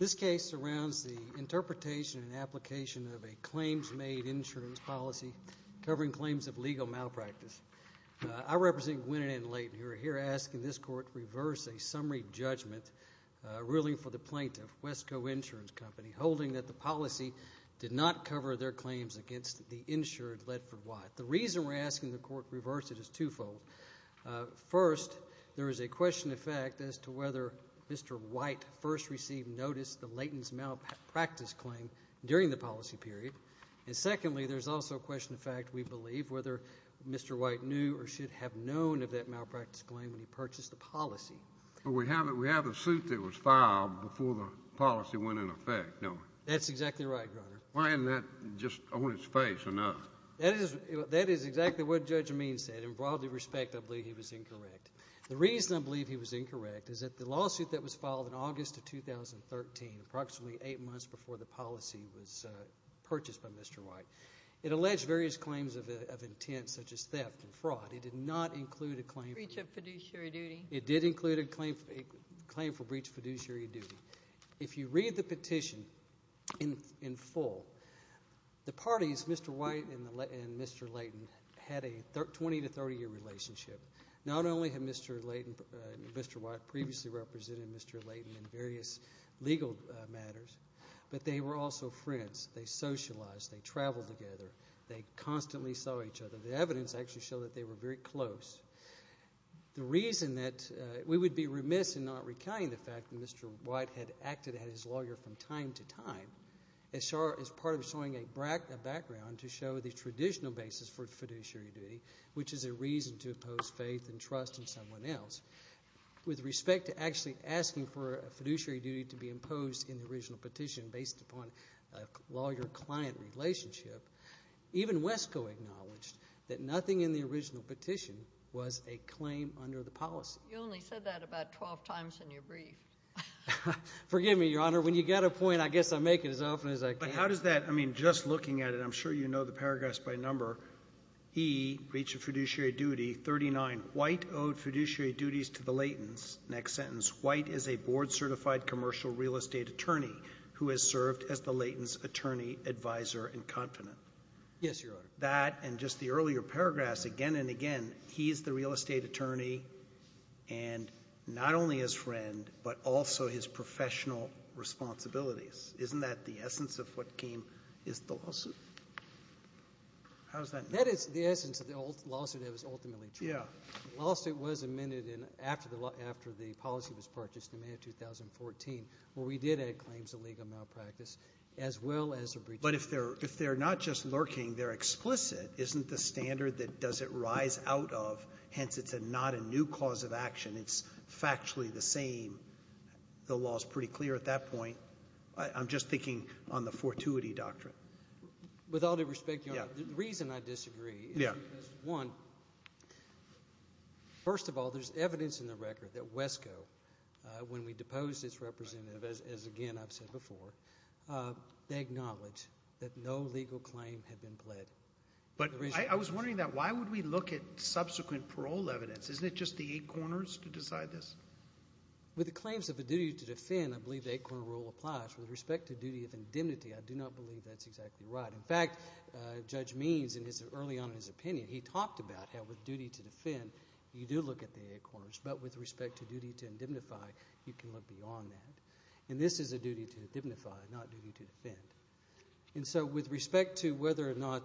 This case surrounds the interpretation and application of a claims-made insurance policy covering claims of legal malpractice. I represent Gwinnett & Leighton, who are here asking this plaintiff, Wesco Insurance Company, holding that the policy did not cover their claims against the insured Ledford White. The reason we're asking the court reverse it is twofold. First, there is a question of fact as to whether Mr. White first received notice of the Leighton's malpractice claim during the policy period. And secondly, there's also a question of fact, we believe, whether Mr. White knew or should have known of that malpractice claim when he purchased the policy. Well, we have a suit that was filed before the policy went into effect, don't we? That's exactly right, Your Honor. Why isn't that just on its face or not? That is exactly what Judge Amin said, and broadly respectably, he was incorrect. The reason I believe he was incorrect is that the lawsuit that was filed in August of 2013, approximately eight months before the policy was purchased by Mr. White, it alleged various claims of intent such as theft and fraud. It did not include a claim for breach of fiduciary duty. It did include a claim for breach of fiduciary duty. If you read the petition in full, the parties, Mr. White and Mr. Leighton, had a 20 to 30-year relationship. Not only had Mr. White previously represented Mr. Leighton in various legal matters, but they were also friends. They socialized, they traveled together, they constantly saw each other. The evidence actually showed that they were very close. The reason that we would be remiss in not recounting the fact that Mr. White had acted at his lawyer from time to time as part of showing a background to show the traditional basis for fiduciary duty, which is a reason to oppose faith and trust in someone else. With respect to actually asking for a fiduciary duty to be imposed in the original petition based upon a lawyer-client relationship, even Wesco acknowledged that nothing in the original petition was a claim under the policy. You only said that about 12 times in your brief. Forgive me, Your Honor. When you get a point, I guess I make it as often as I can. But how does that, I mean, just looking at it, I'm sure you know the paragraphs by number. He, breach of fiduciary duty, 39. White owed fiduciary duties to the Leightons. Next sentence. White is a board-certified commercial real estate attorney who has served as the Leightons' attorney, advisor, and confidant. Yes, Your Honor. That and just the earlier paragraphs again and again, he is the real estate attorney and not only his friend, but also his professional responsibilities. Isn't that the essence of what came, is the lawsuit? How does that make sense? That is the essence of the lawsuit that was ultimately charged. Yeah. The lawsuit was amended in, after the law, after the policy was purchased in May of 2014, where we did add claims of legal malpractice, as well as a breach of fiduciary duty. But if they're not just lurking, they're explicit. Isn't the standard that does it rise out of, hence it's not a new cause of action, it's factually the same, the law is pretty clear at that point. I'm just thinking on the fortuity doctrine. With all due respect, Your Honor, the reason I disagree is because, one, first of all, there's evidence in the record that WESCO, when we deposed its representative, as again I've said before, they acknowledge that no legal claim had been pled. But I was wondering that, why would we look at subsequent parole evidence? Isn't it just the eight corners to decide this? With the claims of a duty to defend, I believe the eight-corner rule applies. With respect to duty of indemnity, I do not believe that's exactly right. In fact, Judge Means, early on in his opinion, he talked about how with duty to defend, you do look at the eight corners, but with respect to duty to indemnify, you can look beyond that. And this is a duty to indemnify, not duty to defend. And so with respect to whether or not,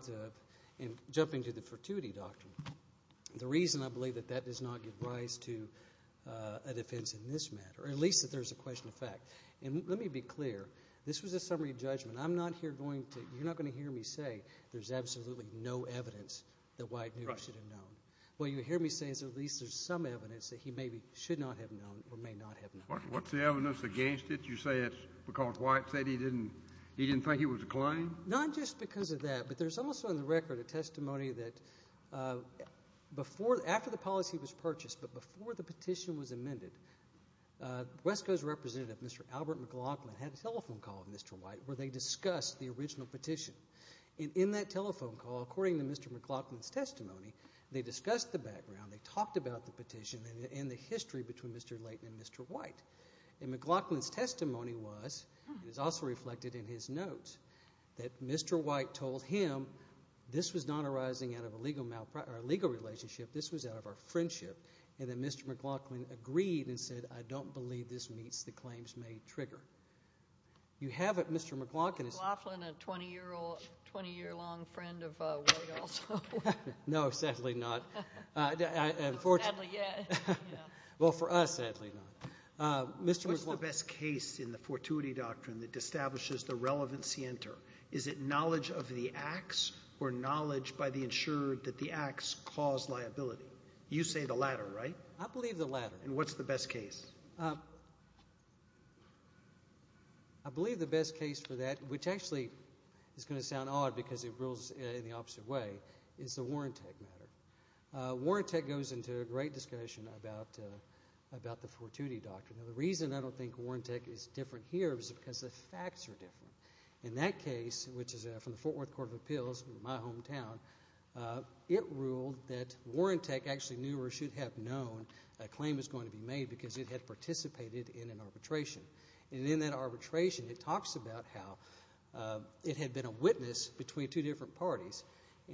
and jumping to the fortuity doctrine, the reason I believe that that does not give rise to a defense in this matter, or at least that there's a question of fact, and let me be clear, this was a summary judgment. I'm not here going to, you're not going to hear me say there's absolutely no evidence that White knew he should have known. What you hear me say is at least there's some evidence that he maybe should not have known or may not have known. What's the evidence against it? You say it's because White said he didn't, he didn't think it was a claim? Not just because of that, but there's also in the record a testimony that before, after the policy was purchased, but before the petition was amended, West Coast representative, Mr. Albert McLaughlin, had a telephone call with Mr. White where they discussed the original petition. And in that telephone call, according to Mr. McLaughlin's testimony, they discussed the background, they talked about the petition and the history between Mr. Layton and Mr. White. And McLaughlin's testimony was, it is also reflected in his notes, that Mr. White told him this was not arising out of a legal relationship, this was out of a friendship, and that Mr. McLaughlin agreed and said, I don't believe this meets the claims made trigger. You have it, Mr. McLaughlin. Was Mr. McLaughlin a 20-year-long friend of White also? No, sadly not. Sadly, yes. Well, for us, sadly not. What's the best case in the fortuity doctrine that establishes the relevancy enter? Is it knowledge of the acts or knowledge by the insurer that the acts cause liability? You say the latter, right? I believe the latter. And what's the best case? I believe the best case for that, which actually is going to sound odd because it rules in the opposite way, is the warrant tech matter. Warrant tech goes into a great discussion about the fortuity doctrine. The reason I don't think warrant tech is different here is because the facts are different. In that case, which is from the Fort Worth Court of Appeals, my hometown, it ruled that warrant tech actually knew or should have known a claim was going to be made because it had participated in an arbitration. And in that arbitration, it talks about how it had been a witness between two different parties,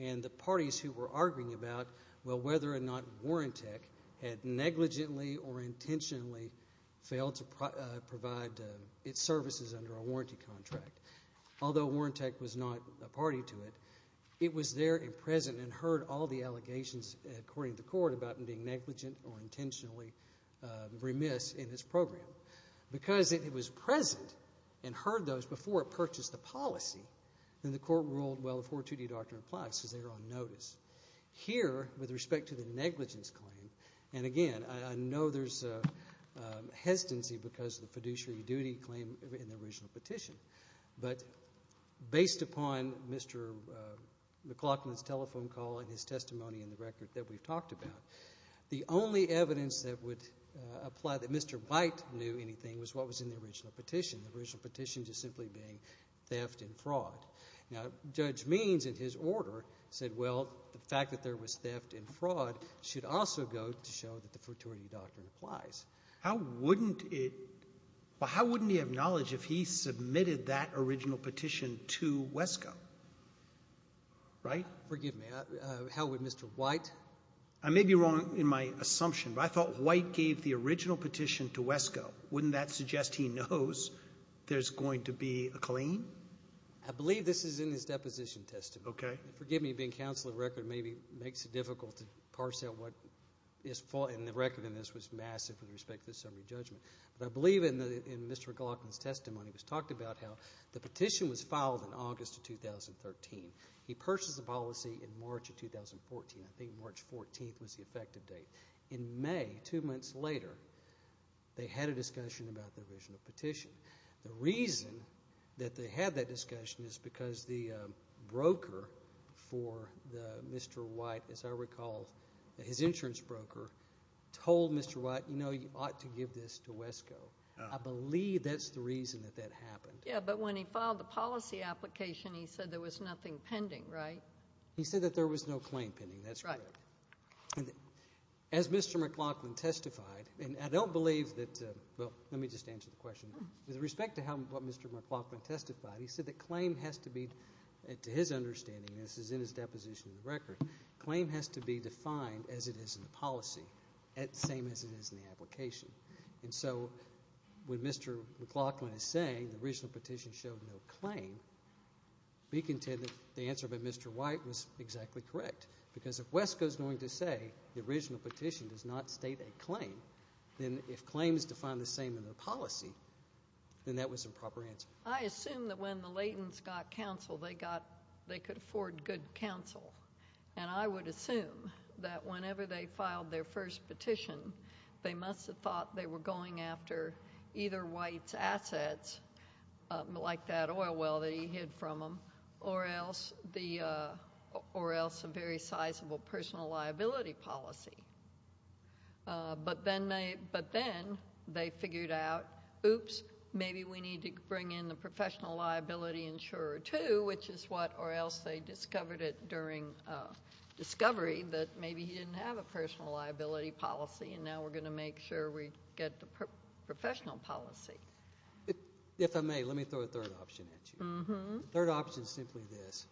and the parties who were arguing about, well, whether or not warrant tech had negligently or intentionally failed to provide its services under a warranty contract. Although warrant tech was not a party to it, it was there and present and heard all the allegations according to court about it being negligent or intentionally remiss in its program. Because it was present and heard those before it purchased the policy, then the court ruled, well, the fortuity doctrine applies because they were on notice. Here, with respect to the negligence claim, and again, I know there's hesitancy because of the fiduciary duty claim in the original petition, but based upon Mr. McLaughlin's telephone call and his testimony in the record that we've talked about, the only evidence that would apply that Mr. Byte knew anything was what was in the original petition, the original petition just simply being theft and fraud. Now, Judge Means, in his order, said, well, the fact that there was theft and fraud should also go to show that the fortuity doctrine applies. How wouldn't it — well, how wouldn't he have knowledge if he submitted that original petition to WESCO? Right? Forgive me. How would Mr. White? I may be wrong in my assumption, but I thought White gave the original petition to WESCO. Wouldn't that suggest he knows there's going to be a claim? I believe this is in his deposition testimony. Okay. Forgive me. Being counsel of the record maybe makes it difficult to parse out what is — and the record in this was massive with respect to the summary judgment. But I believe in Mr. McLaughlin's testimony, it was talked about how the petition was filed in August of 2013. He purchased the policy in March of 2014. I think March 14th was the effective date. In May, two months later, they had a discussion about the original petition. The reason that they had that discussion is because the broker for Mr. White, as I recall, his insurance broker, told Mr. White, you know, you ought to give this to WESCO. I believe that's the reason that that happened. Yeah, but when he filed the policy application, he said there was nothing pending, right? He said that there was no claim pending. That's right. As Mr. McLaughlin testified, and I don't believe that — well, let me just answer the question. With respect to what Mr. McLaughlin testified, he said that claim has to be, to his understanding, and this is in his deposition of the record, claim has to be defined as it is in the policy, the same as it is in the application. And so when Mr. McLaughlin is saying the original petition showed no claim, we contend that the answer by Mr. White was exactly correct because if WESCO is going to say the original petition does not state a claim, then if claim is defined the same in the policy, then that was the proper answer. I assume that when the Laytons got counsel, they could afford good counsel, and I would assume that whenever they filed their first petition, they must have thought they were going after either White's assets, like that oil well that he hid from them, or else a very sizable personal liability policy. But then they figured out, oops, maybe we need to bring in the professional liability insurer too, which is what — or else they discovered it during discovery that maybe he didn't have a personal liability policy, and now we're going to make sure we get the professional policy. If I may, let me throw a third option at you. Mm-hmm. The third option is simply this.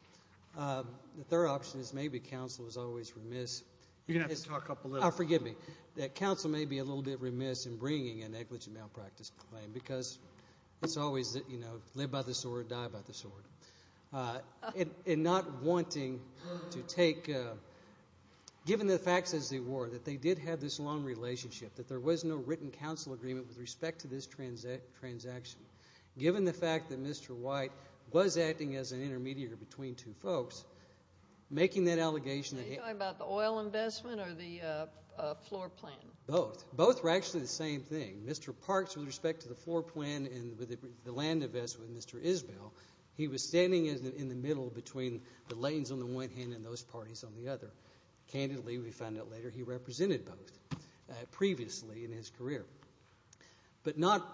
The third option is maybe counsel is always remiss. You're going to have to talk up a little. Oh, forgive me. That counsel may be a little bit remiss in bringing a negligent malpractice claim because it's always, you know, live by the sword, die by the sword. And not wanting to take — given the facts as they were, that they did have this long relationship, that there was no written counsel agreement with respect to this transaction, given the fact that Mr. White was acting as an intermediary between two folks, making that allegation that he — Are you talking about the oil investment or the floor plan? Both. Both were actually the same thing. Mr. Parks, with respect to the floor plan and the land investment, and Mr. Isbell, he was standing in the middle between the lanes on the one hand and those parties on the other. Candidly, we found out later, he represented both previously in his career. But not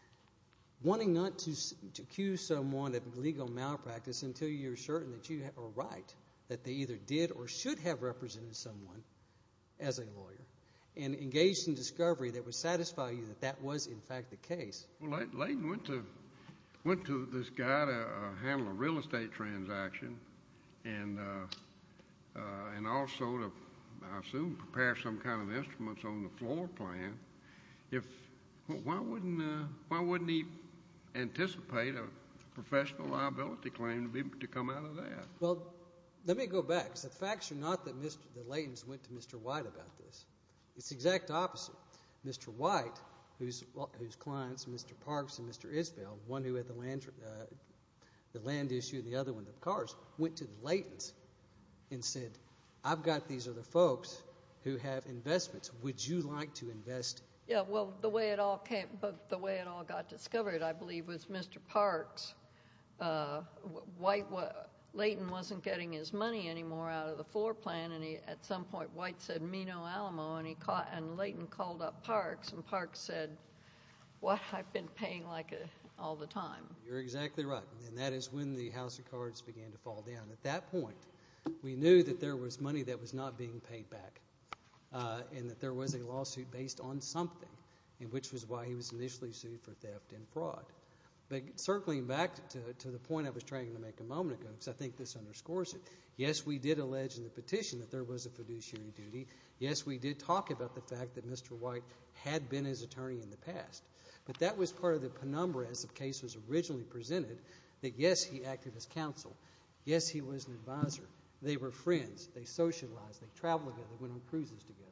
— wanting not to accuse someone of legal malpractice until you're certain that you are right, that they either did or should have represented someone as a lawyer, and engaged in discovery that would satisfy you that that was, in fact, the case. Well, Leighton went to this guy to handle a real estate transaction and also to, I assume, prepare some kind of instruments on the floor plan. Why wouldn't he anticipate a professional liability claim to come out of that? Well, let me go back. The facts are not that Leighton went to Mr. White about this. It's the exact opposite. Mr. White, whose clients, Mr. Parks and Mr. Isbell, one who had the land issue and the other one the cars, went to Leighton and said, I've got these other folks who have investments. Would you like to invest? Yeah, well, the way it all came — the way it all got discovered, I believe, was Mr. Parks. Leighton wasn't getting his money anymore out of the floor plan, and at some point White said, and Leighton called up Parks, and Parks said, What? I've been paying like all the time. You're exactly right, and that is when the house of cards began to fall down. At that point, we knew that there was money that was not being paid back and that there was a lawsuit based on something, which was why he was initially sued for theft and fraud. But circling back to the point I was trying to make a moment ago, because I think this underscores it, yes, we did allege in the petition that there was a fiduciary duty. Yes, we did talk about the fact that Mr. White had been his attorney in the past. But that was part of the penumbra, as the case was originally presented, that, yes, he acted as counsel. Yes, he was an advisor. They were friends. They socialized. They traveled together. They went on cruises together.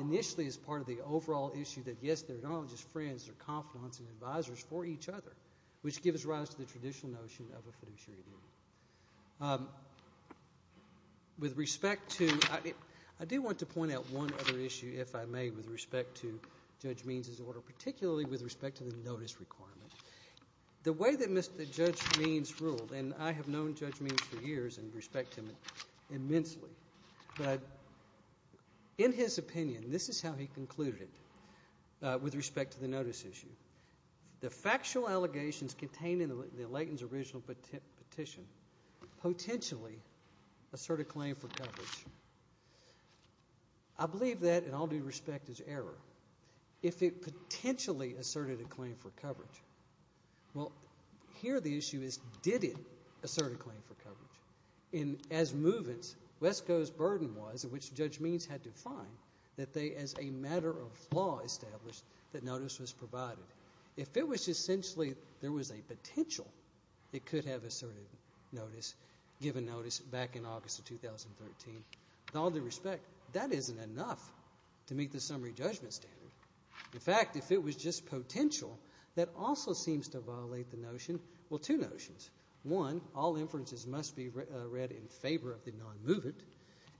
Initially, as part of the overall issue that, yes, they're not only just friends, they're confidants and advisors for each other, which gives rise to the traditional notion of a fiduciary duty. With respect to ‑‑ I do want to point out one other issue, if I may, with respect to Judge Means's order, particularly with respect to the notice requirement. The way that Judge Means ruled, and I have known Judge Means for years and respect him immensely, but in his opinion, this is how he concluded it with respect to the notice issue. The factual allegations contained in Layton's original petition potentially assert a claim for coverage. I believe that, in all due respect, is error. If it potentially asserted a claim for coverage, well, here the issue is, did it assert a claim for coverage? And as movements, Wesco's burden was, which Judge Means had to find, that they, as a matter of law established, that notice was provided. If it was essentially there was a potential it could have asserted notice, given notice, back in August of 2013, in all due respect, that isn't enough to meet the summary judgment standard. In fact, if it was just potential, that also seems to violate the notion, well, two notions. One, all inferences must be read in favor of the non‑movement.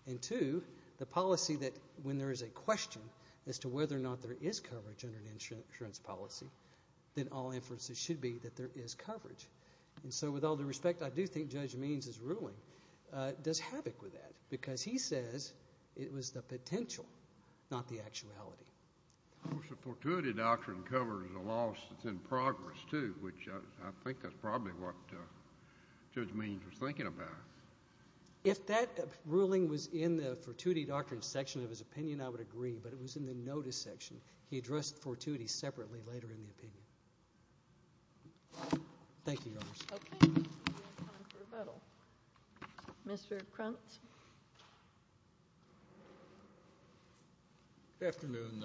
And two, the policy that when there is a question as to whether or not there is coverage under an insurance policy, then all inferences should be that there is coverage. And so, with all due respect, I do think Judge Means' ruling does havoc with that because he says it was the potential, not the actuality. Of course, the fortuity doctrine covers a loss that's in progress, too, which I think is probably what Judge Means was thinking about. If that ruling was in the fortuity doctrine section of his opinion, I would agree, but it was in the notice section. He addressed fortuity separately later in the opinion. Thank you, Your Honors. Okay. We have time for rebuttal. Mr. Krantz. Good afternoon,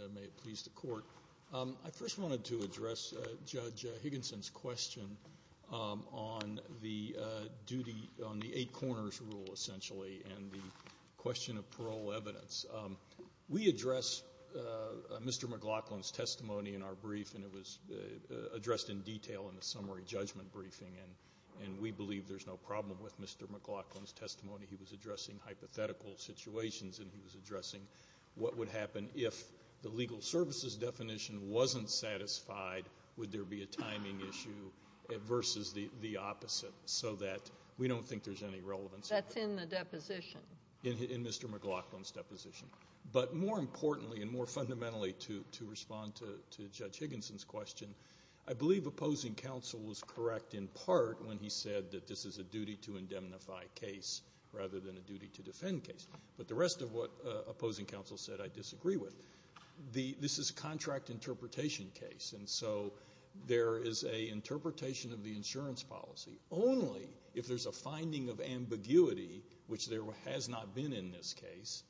and may it please the Court. I first wanted to address Judge Higginson's question on the eight corners rule, essentially, and the question of parole evidence. We address Mr. McLaughlin's testimony in our brief, and it was addressed in detail in the summary judgment briefing, and we believe there's no problem with Mr. McLaughlin's testimony. He was addressing hypothetical situations, and he was addressing what would happen if the legal services definition wasn't satisfied. Would there be a timing issue versus the opposite so that we don't think there's any relevance? That's in the deposition. In Mr. McLaughlin's deposition. But more importantly and more fundamentally to respond to Judge Higginson's question, I believe opposing counsel was correct in part when he said that this is a duty-to-indemnify case rather than a duty-to-defend case. But the rest of what opposing counsel said I disagree with. This is a contract interpretation case, and so there is an interpretation of the insurance policy. Only if there's a finding of ambiguity, which there has not been in this case,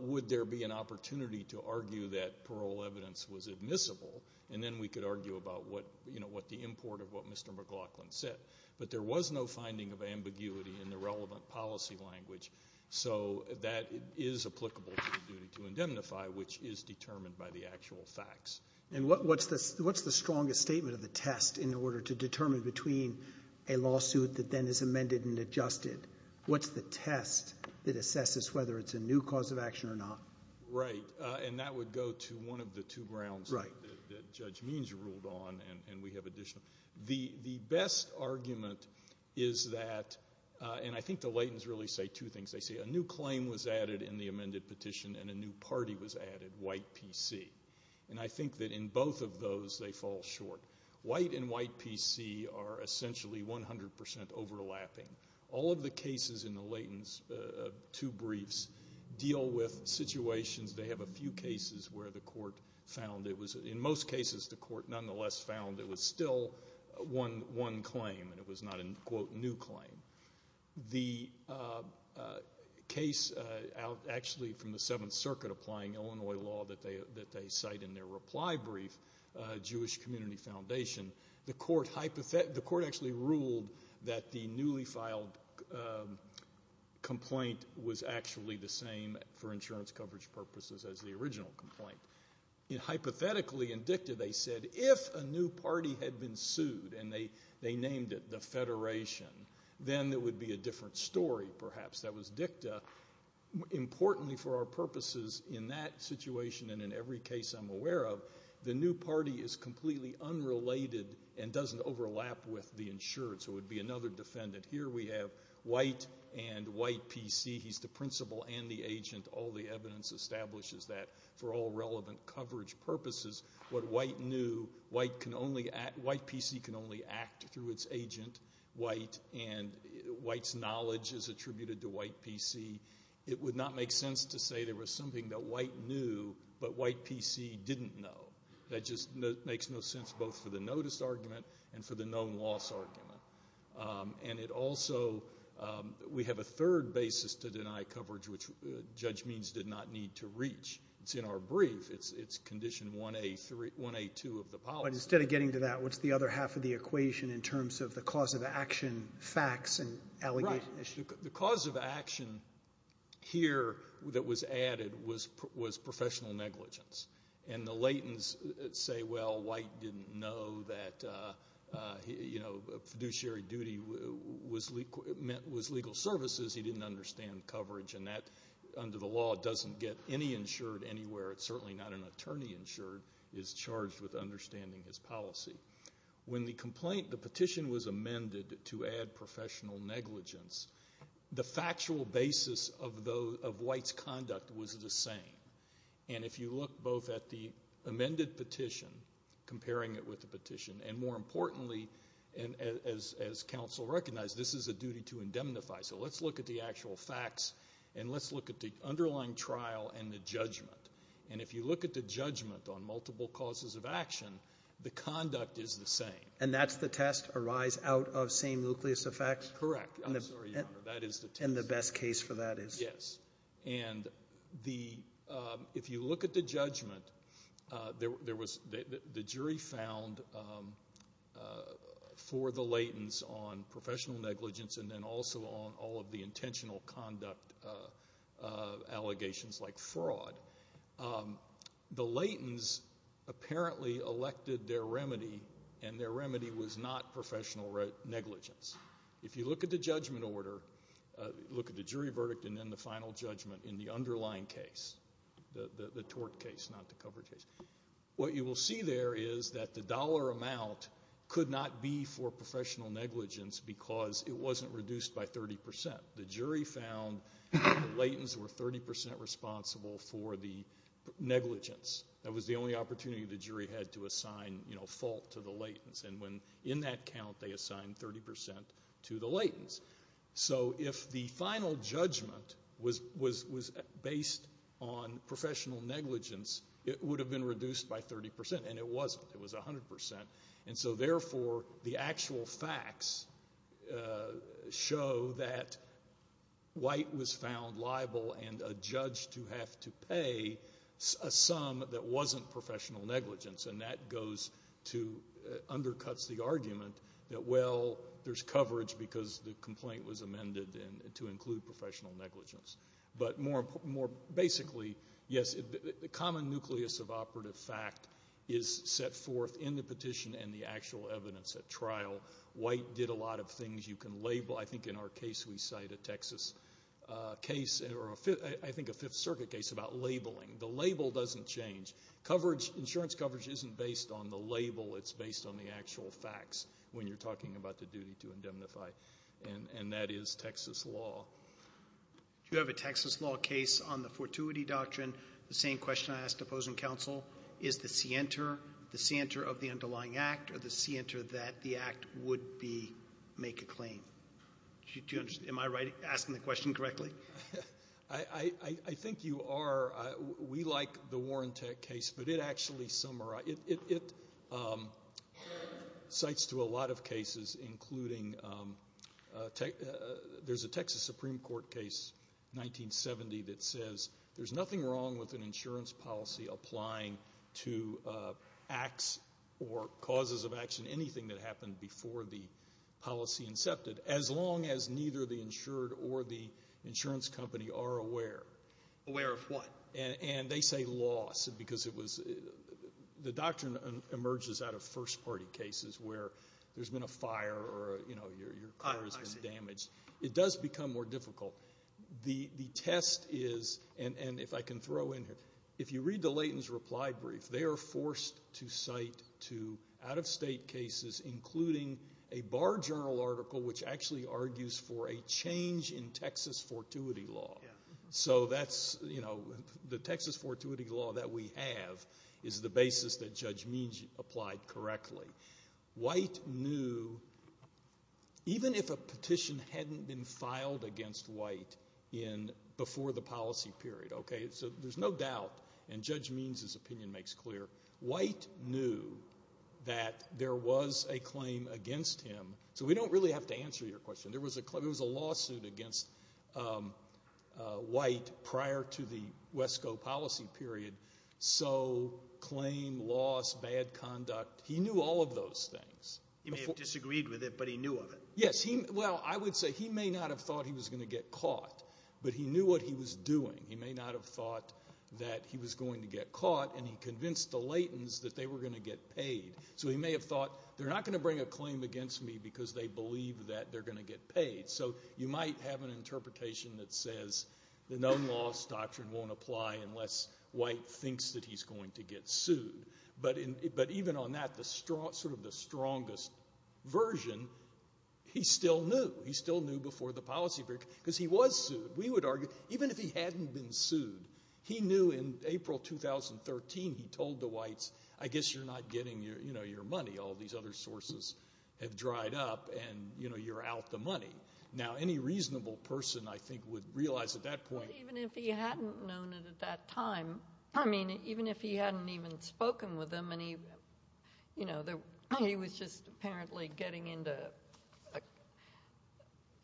would there be an opportunity to argue that parole evidence was admissible, and then we could argue about what the import of what Mr. McLaughlin said. But there was no finding of ambiguity in the relevant policy language, so that is applicable to the duty-to-indemnify, which is determined by the actual facts. And what's the strongest statement of the test in order to determine between a lawsuit that then is amended and adjusted? What's the test that assesses whether it's a new cause of action or not? Right, and that would go to one of the two grounds that Judge Means ruled on, and we have additional. The best argument is that, and I think the Laytons really say two things. They say a new claim was added in the amended petition and a new party was added, white PC. And I think that in both of those they fall short. White and white PC are essentially 100% overlapping. All of the cases in the Laytons two briefs deal with situations. They have a few cases where the court found it was, in most cases the court nonetheless found it was still one claim and it was not a, quote, new claim. The case actually from the Seventh Circuit applying Illinois law that they cite in their reply brief, Jewish Community Foundation, the court actually ruled that the newly filed complaint was actually the same for insurance coverage purposes as the original complaint. Hypothetically, in dicta, they said if a new party had been sued and they named it the Federation, then it would be a different story perhaps. That was dicta. Importantly for our purposes in that situation and in every case I'm aware of, the new party is completely unrelated and doesn't overlap with the insurance. It would be another defendant. Here we have white and white PC. He's the principal and the agent. All the evidence establishes that for all relevant coverage purposes. What white knew, white PC can only act through its agent, white, and white's knowledge is attributed to white PC. It would not make sense to say there was something that white knew but white PC didn't know. That just makes no sense both for the notice argument and for the known loss argument. It also, we have a third basis to deny coverage, which Judge Means did not need to reach. It's in our brief. It's condition 1A2 of the policy. Instead of getting to that, what's the other half of the equation in terms of the cause of action facts and allegations? The cause of action here that was added was professional negligence. The Laytons say, well, white didn't know that fiduciary duty was legal services. He didn't understand coverage. Under the law, it doesn't get any insured anywhere. It's certainly not an attorney insured is charged with understanding his policy. When the petition was amended to add professional negligence, the factual basis of white's conduct was the same. And if you look both at the amended petition, comparing it with the petition, and more importantly, as counsel recognized, this is a duty to indemnify. So let's look at the actual facts, and let's look at the underlying trial and the judgment. And if you look at the judgment on multiple causes of action, the conduct is the same. And that's the test, a rise out of same nucleus effect? Correct. I'm sorry, Your Honor, that is the test. And the best case for that is? Yes. And if you look at the judgment, the jury found for the Laytons on professional negligence and then also on all of the intentional conduct allegations like fraud, the Laytons apparently elected their remedy, and their remedy was not professional negligence. If you look at the judgment order, look at the jury verdict and then the final judgment in the underlying case, the tort case, not the coverage case, what you will see there is that the dollar amount could not be for professional negligence because it wasn't reduced by 30%. The jury found that the Laytons were 30% responsible for the negligence. That was the only opportunity the jury had to assign fault to the Laytons. And in that count, they assigned 30% to the Laytons. So if the final judgment was based on professional negligence, it would have been reduced by 30%. And it wasn't. It was 100%. And so, therefore, the actual facts show that White was found liable and a judge to have to pay a sum that wasn't professional negligence. And that undercuts the argument that, well, there's coverage because the complaint was amended to include professional negligence. But more basically, yes, the common nucleus of operative fact is set forth in the petition and the actual evidence at trial. White did a lot of things you can label. I think in our case we cite a Texas case or I think a Fifth Circuit case about labeling. The label doesn't change. Insurance coverage isn't based on the label. It's based on the actual facts when you're talking about the duty to indemnify, and that is Texas law. You have a Texas law case on the fortuity doctrine. The same question I asked opposing counsel, is the scienter the scienter of the underlying act or the scienter that the act would make a claim? Am I asking the question correctly? I think you are. We like the Warren Tech case, but it actually summarizes. It cites to a lot of cases, including there's a Texas Supreme Court case, 1970, that says there's nothing wrong with an insurance policy applying to acts or causes of action, anything that happened before the policy incepted, as long as neither the insured or the insurance company are aware. Aware of what? And they say loss, because the doctrine emerges out of first-party cases where there's been a fire or your car has been damaged. It does become more difficult. The test is, and if I can throw in here, if you read the Leighton's reply brief, they are forced to cite to out-of-state cases, including a Bar Journal article, which actually argues for a change in Texas fortuity law. So that's the Texas fortuity law that we have is the basis that Judge Means applied correctly. White knew, even if a petition hadn't been filed against White before the policy period, so there's no doubt, and Judge Means' opinion makes clear, White knew that there was a claim against him. So we don't really have to answer your question. There was a lawsuit against White prior to the WESCO policy period. So claim, loss, bad conduct, he knew all of those things. He may have disagreed with it, but he knew of it. Yes. Well, I would say he may not have thought he was going to get caught, but he knew what he was doing. He may not have thought that he was going to get caught, and he convinced the Leightons that they were going to get paid. So he may have thought, they're not going to bring a claim against me because they believe that they're going to get paid. So you might have an interpretation that says the known loss doctrine won't apply unless White thinks that he's going to get sued. But even on that, sort of the strongest version, he still knew. He still knew before the policy period because he was sued. We would argue even if he hadn't been sued, he knew in April 2013 he told the Whites, I guess you're not getting your money. All these other sources have dried up, and you're out the money. Now, any reasonable person, I think, would realize at that point. Even if he hadn't known it at that time, I mean, even if he hadn't even spoken with them, and he was just apparently getting into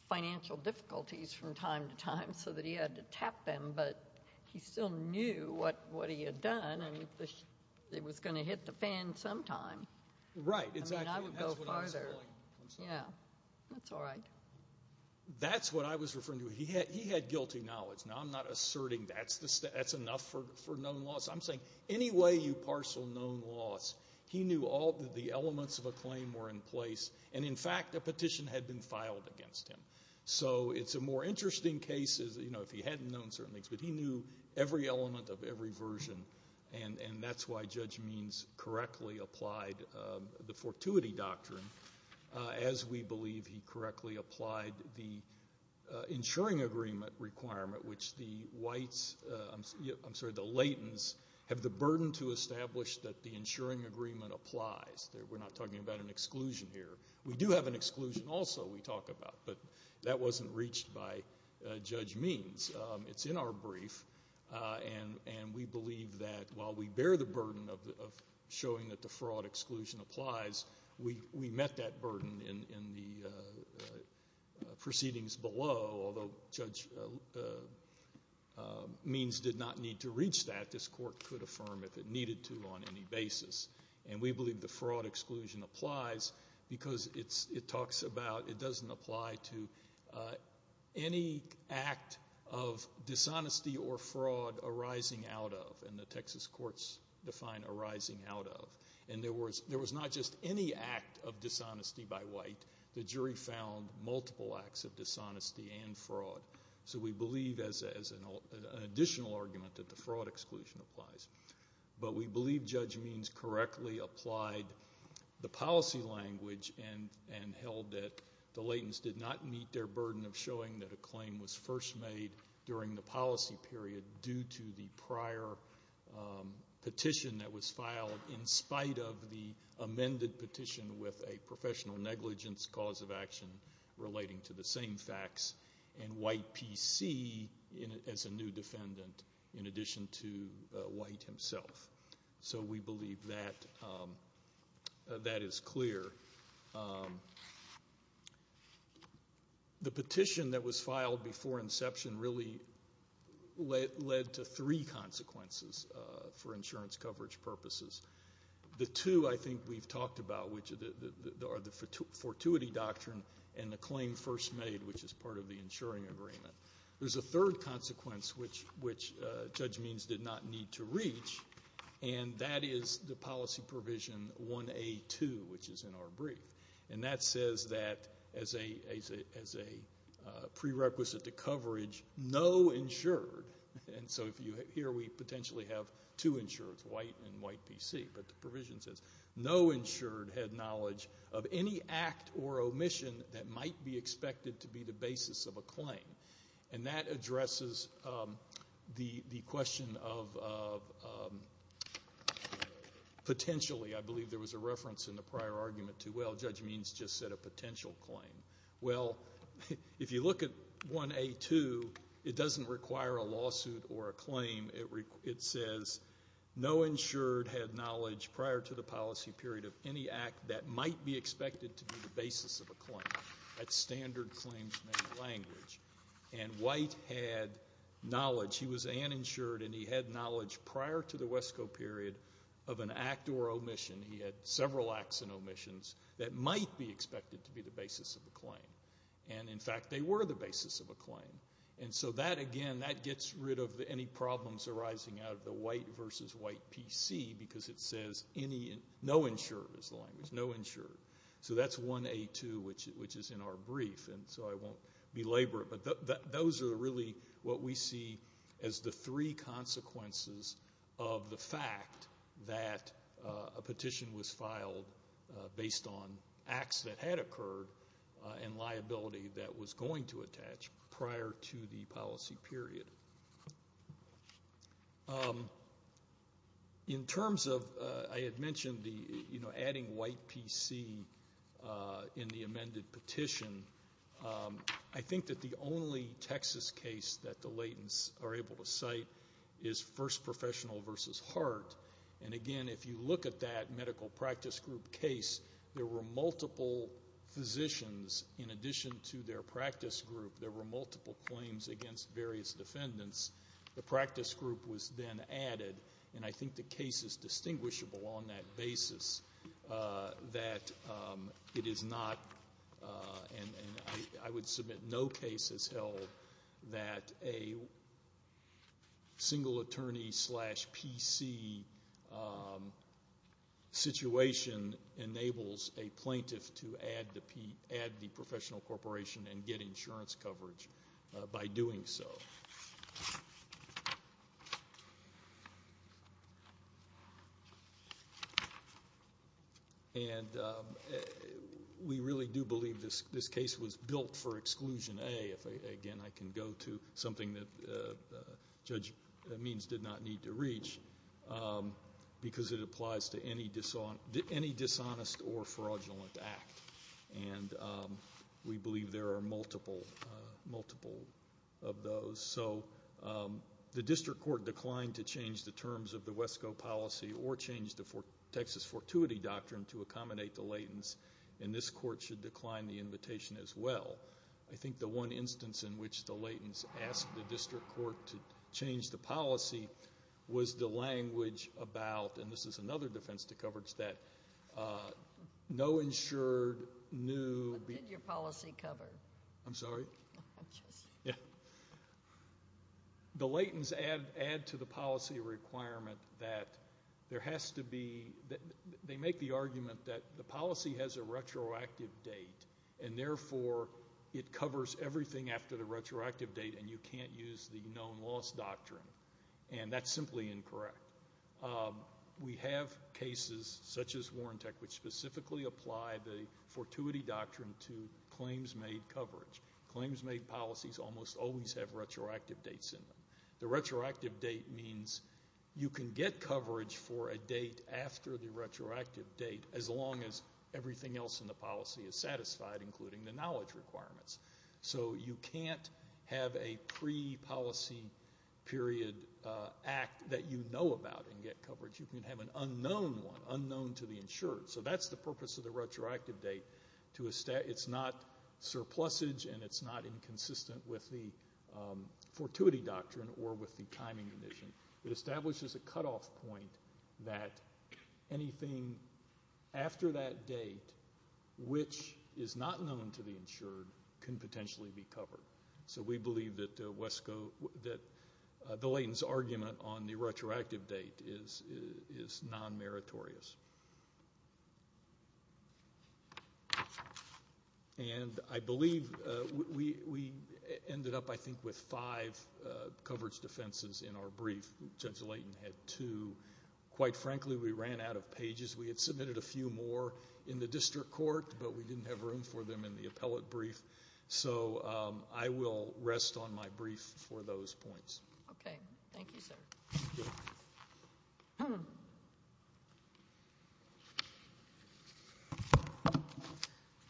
financial difficulties from time to time so that he had to tap them, but he still knew what he had done, and it was going to hit the fan sometime. Right, exactly. I mean, I would go farther. Yeah, that's all right. That's what I was referring to. He had guilty knowledge. Now, I'm not asserting that's enough for known loss. I'm saying any way you parcel known loss, he knew all the elements of a claim were in place, and, in fact, a petition had been filed against him. So it's a more interesting case, you know, if he hadn't known certain things, but he knew every element of every version, and that's why Judge Means correctly applied the fortuity doctrine, as we believe he correctly applied the insuring agreement requirement, which the latents have the burden to establish that the insuring agreement applies. We're not talking about an exclusion here. We do have an exclusion also we talk about, but that wasn't reached by Judge Means. It's in our brief, and we believe that while we bear the burden of showing that the fraud exclusion applies, we met that burden in the proceedings below, although Judge Means did not need to reach that. This Court could affirm if it needed to on any basis, and we believe the fraud exclusion applies because it talks about it doesn't apply to any act of dishonesty or fraud arising out of, and the Texas courts define arising out of, and there was not just any act of dishonesty by white. The jury found multiple acts of dishonesty and fraud. So we believe as an additional argument that the fraud exclusion applies, but we believe Judge Means correctly applied the policy language and held that the latents did not meet their burden of showing that a claim was first made during the policy period due to the prior petition that was filed in spite of the amended petition with a professional negligence cause of action relating to the same facts, and white PC as a new defendant in addition to white himself. So we believe that that is clear. The petition that was filed before inception really led to three consequences for insurance coverage purposes. The two I think we've talked about are the fortuity doctrine and the claim first made, which is part of the insuring agreement. There's a third consequence, which Judge Means did not need to reach, and that is the policy provision 1A.2, which is in our brief, and that says that as a prerequisite to coverage, no insured, and so here we potentially have two insureds, white and white PC, but the provision says no insured had knowledge of any act or omission that might be expected to be the basis of a claim, and that addresses the question of potentially. I believe there was a reference in the prior argument to, well, Judge Means just said a potential claim. Well, if you look at 1A.2, it doesn't require a lawsuit or a claim. It says no insured had knowledge prior to the policy period of any act that might be expected to be the basis of a claim. That's standard claims-made language, and white had knowledge. He was uninsured, and he had knowledge prior to the WESCO period of an act or omission. He had several acts and omissions that might be expected to be the basis of a claim, and in fact they were the basis of a claim, and so that, again, that gets rid of any problems arising out of the white versus white PC because it says no insured is the language, no insured. So that's 1A.2, which is in our brief, and so I won't belabor it, but those are really what we see as the three consequences of the fact that a petition was filed based on acts that had occurred and liability that was going to attach prior to the policy period. In terms of, I had mentioned adding white PC in the amended petition, I think that the only Texas case that the Laytons are able to cite is first professional versus heart, and, again, if you look at that medical practice group case, there were multiple physicians in addition to their practice group. There were multiple claims against various defendants. The practice group was then added, and I think the case is distinguishable on that basis that it is not and I would submit no case has held that a single attorney slash PC situation enables a plaintiff to add the professional corporation and get insurance coverage by doing so. And we really do believe this case was built for exclusion A. Again, I can go to something that Judge Means did not need to reach because it applies to any dishonest or fraudulent act, and we believe there are multiple of those. So the district court declined to change the terms of the WESCO policy or change the Texas fortuity doctrine to accommodate the Laytons, and this court should decline the invitation as well. I think the one instance in which the Laytons asked the district court to change the policy was the language about, and this is another defense to coverage, that no insured, new... What did your policy cover? I'm sorry? I'm just... The Laytons add to the policy requirement that there has to be... They make the argument that the policy has a retroactive date, and therefore it covers everything after the retroactive date and you can't use the known loss doctrine, and that's simply incorrect. We have cases, such as Warrantech, which specifically apply the fortuity doctrine to claims made coverage. Claims made policies almost always have retroactive dates in them. The retroactive date means you can get coverage for a date after the retroactive date as long as everything else in the policy is satisfied, including the knowledge requirements. So you can't have a pre-policy period act that you know about and get coverage. You can have an unknown one, unknown to the insured. So that's the purpose of the retroactive date. It's not surplusage and it's not inconsistent with the fortuity doctrine or with the timing condition. It establishes a cutoff point that anything after that date, which is not known to the insured, can potentially be covered. So we believe that the Layton's argument on the retroactive date is non-meritorious. And I believe we ended up, I think, with five coverage defenses in our brief. Judge Layton had two. Quite frankly, we ran out of pages. We had submitted a few more in the district court, but we didn't have room for them in the appellate brief. So I will rest on my brief for those points. Okay. Thank you, sir. Thank you.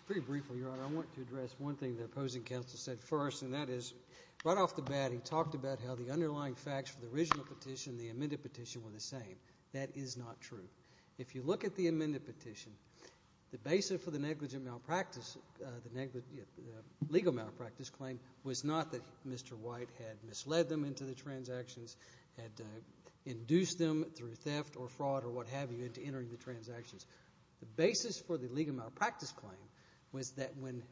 Pretty briefly, Your Honor, I want to address one thing the opposing counsel said first, and that is right off the bat, he talked about how the underlying facts for the original petition and the amended petition were the same. That is not true. If you look at the amended petition, the basis for the negligent malpractice, the legal malpractice claim was not that Mr. White had misled them into the transactions, had induced them through theft or fraud or what have you into entering the transactions. The basis for the legal malpractice claim was that when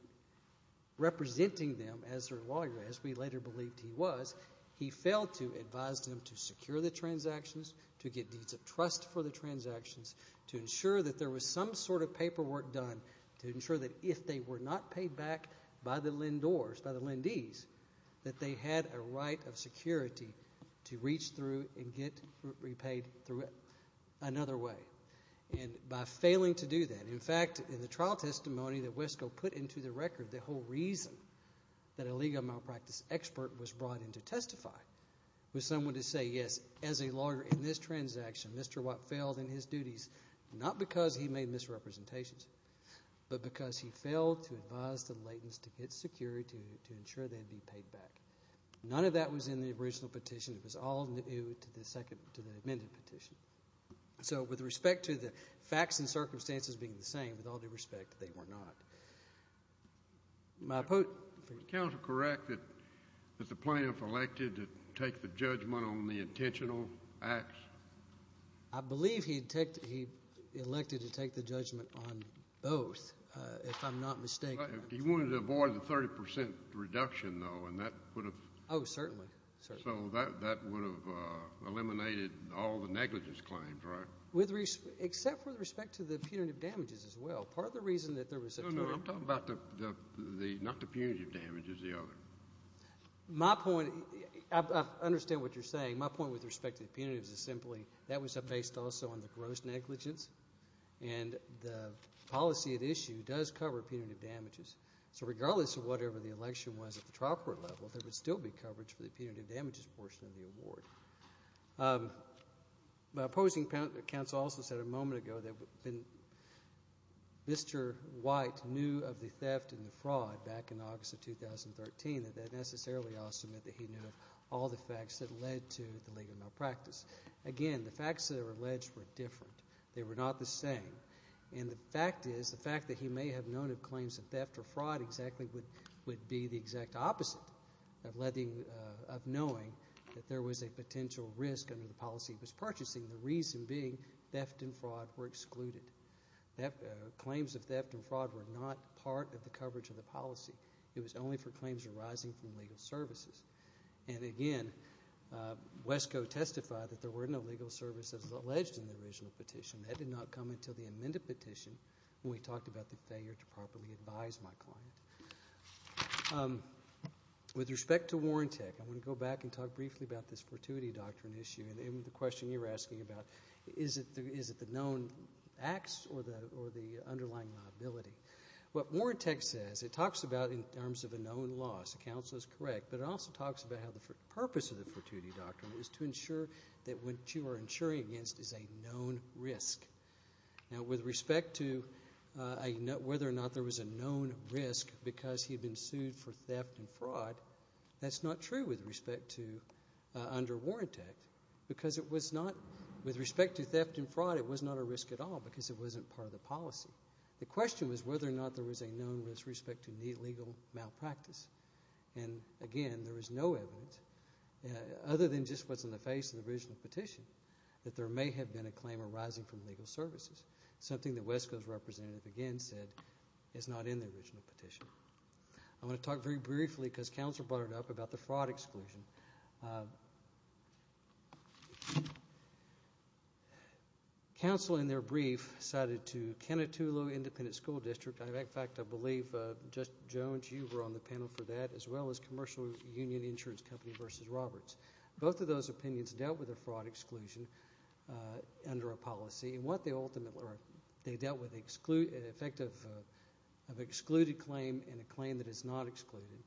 representing them as their lawyer, as we later believed he was, he failed to advise them to secure the transactions, to get deeds of trust for the transactions, to ensure that there was some sort of paperwork done to ensure that if they were not paid back by the LEND doors, by the LENDees, that they had a right of security to reach through and get repaid through another way. And by failing to do that, in fact, in the trial testimony that Wesco put into the record, the whole reason that a legal malpractice expert was brought in to testify was someone to say, yes, as a lawyer in this transaction, Mr. White failed in his duties not because he made misrepresentations but because he failed to advise the LENDees to get security to ensure they'd be paid back. None of that was in the original petition. It was all new to the amended petition. So with respect to the facts and circumstances being the same, with all due respect, they were not. Was counsel correct that the plaintiff elected to take the judgment on the intentional acts? I believe he elected to take the judgment on both, if I'm not mistaken. He wanted to avoid the 30 percent reduction, though, and that would have. Oh, certainly. So that would have eliminated all the negligence claims, right? Except with respect to the punitive damages as well. Part of the reason that there was a total. No, no, I'm talking about not the punitive damages, the other. My point, I understand what you're saying. My point with respect to the punitives is simply that was based also on the gross negligence, and the policy at issue does cover punitive damages. So regardless of whatever the election was at the trial court level, there would still be coverage for the punitive damages portion of the award. Opposing counsel also said a moment ago that Mr. White knew of the theft and the fraud back in August of 2013, and that necessarily also meant that he knew of all the facts that led to the legal malpractice. Again, the facts that are alleged were different. They were not the same. And the fact is, the fact that he may have known of claims of theft or fraud exactly would be the exact opposite of knowing that there was a potential risk under the policy he was purchasing, the reason being theft and fraud were excluded. Claims of theft and fraud were not part of the coverage of the policy. It was only for claims arising from legal services. And again, WESCO testified that there were no legal services alleged in the original petition. That did not come until the amended petition when we talked about the failure to properly advise my client. With respect to Warrantech, I want to go back and talk briefly about this fortuity doctrine issue and the question you were asking about, is it the known acts or the underlying liability? What Warrantech says, it talks about in terms of a known loss. The counsel is correct, but it also talks about how the purpose of the fortuity doctrine is to ensure that what you are insuring against is a known risk. Now, with respect to whether or not there was a known risk because he had been sued for theft and fraud, that's not true with respect to under Warrantech because it was not, with respect to theft and fraud, it was not a risk at all because it wasn't part of the policy. The question was whether or not there was a known risk with respect to legal malpractice. And, again, there is no evidence, other than just what's in the face of the original petition, that there may have been a claim arising from legal services, something that Wesco's representative, again, said is not in the original petition. I want to talk very briefly because counsel brought it up about the fraud exclusion. Counsel, in their brief, cited to Kenetulo Independent School District, and, in fact, I believe, Judge Jones, you were on the panel for that, as well as Commercial Union Insurance Company v. Roberts. Both of those opinions dealt with a fraud exclusion under a policy, and what they ultimately dealt with is the effect of an excluded claim and a claim that is not excluded.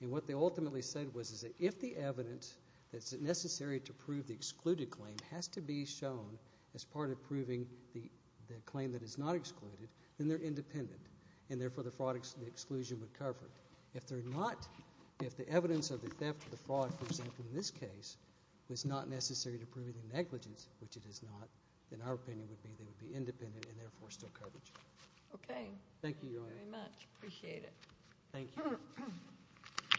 And what they ultimately said was that if the evidence that's necessary to prove the excluded claim has to be shown as part of proving the claim that is not excluded, then they're independent, and, therefore, the fraud exclusion would cover it. If they're not, if the evidence of the theft or the fraud, for example, in this case, was not necessary to prove the negligence, which it is not, then our opinion would be they would be independent and, therefore, still cover it. Okay. Thank you, Your Honor. Thank you very much. Appreciate it. Thank you.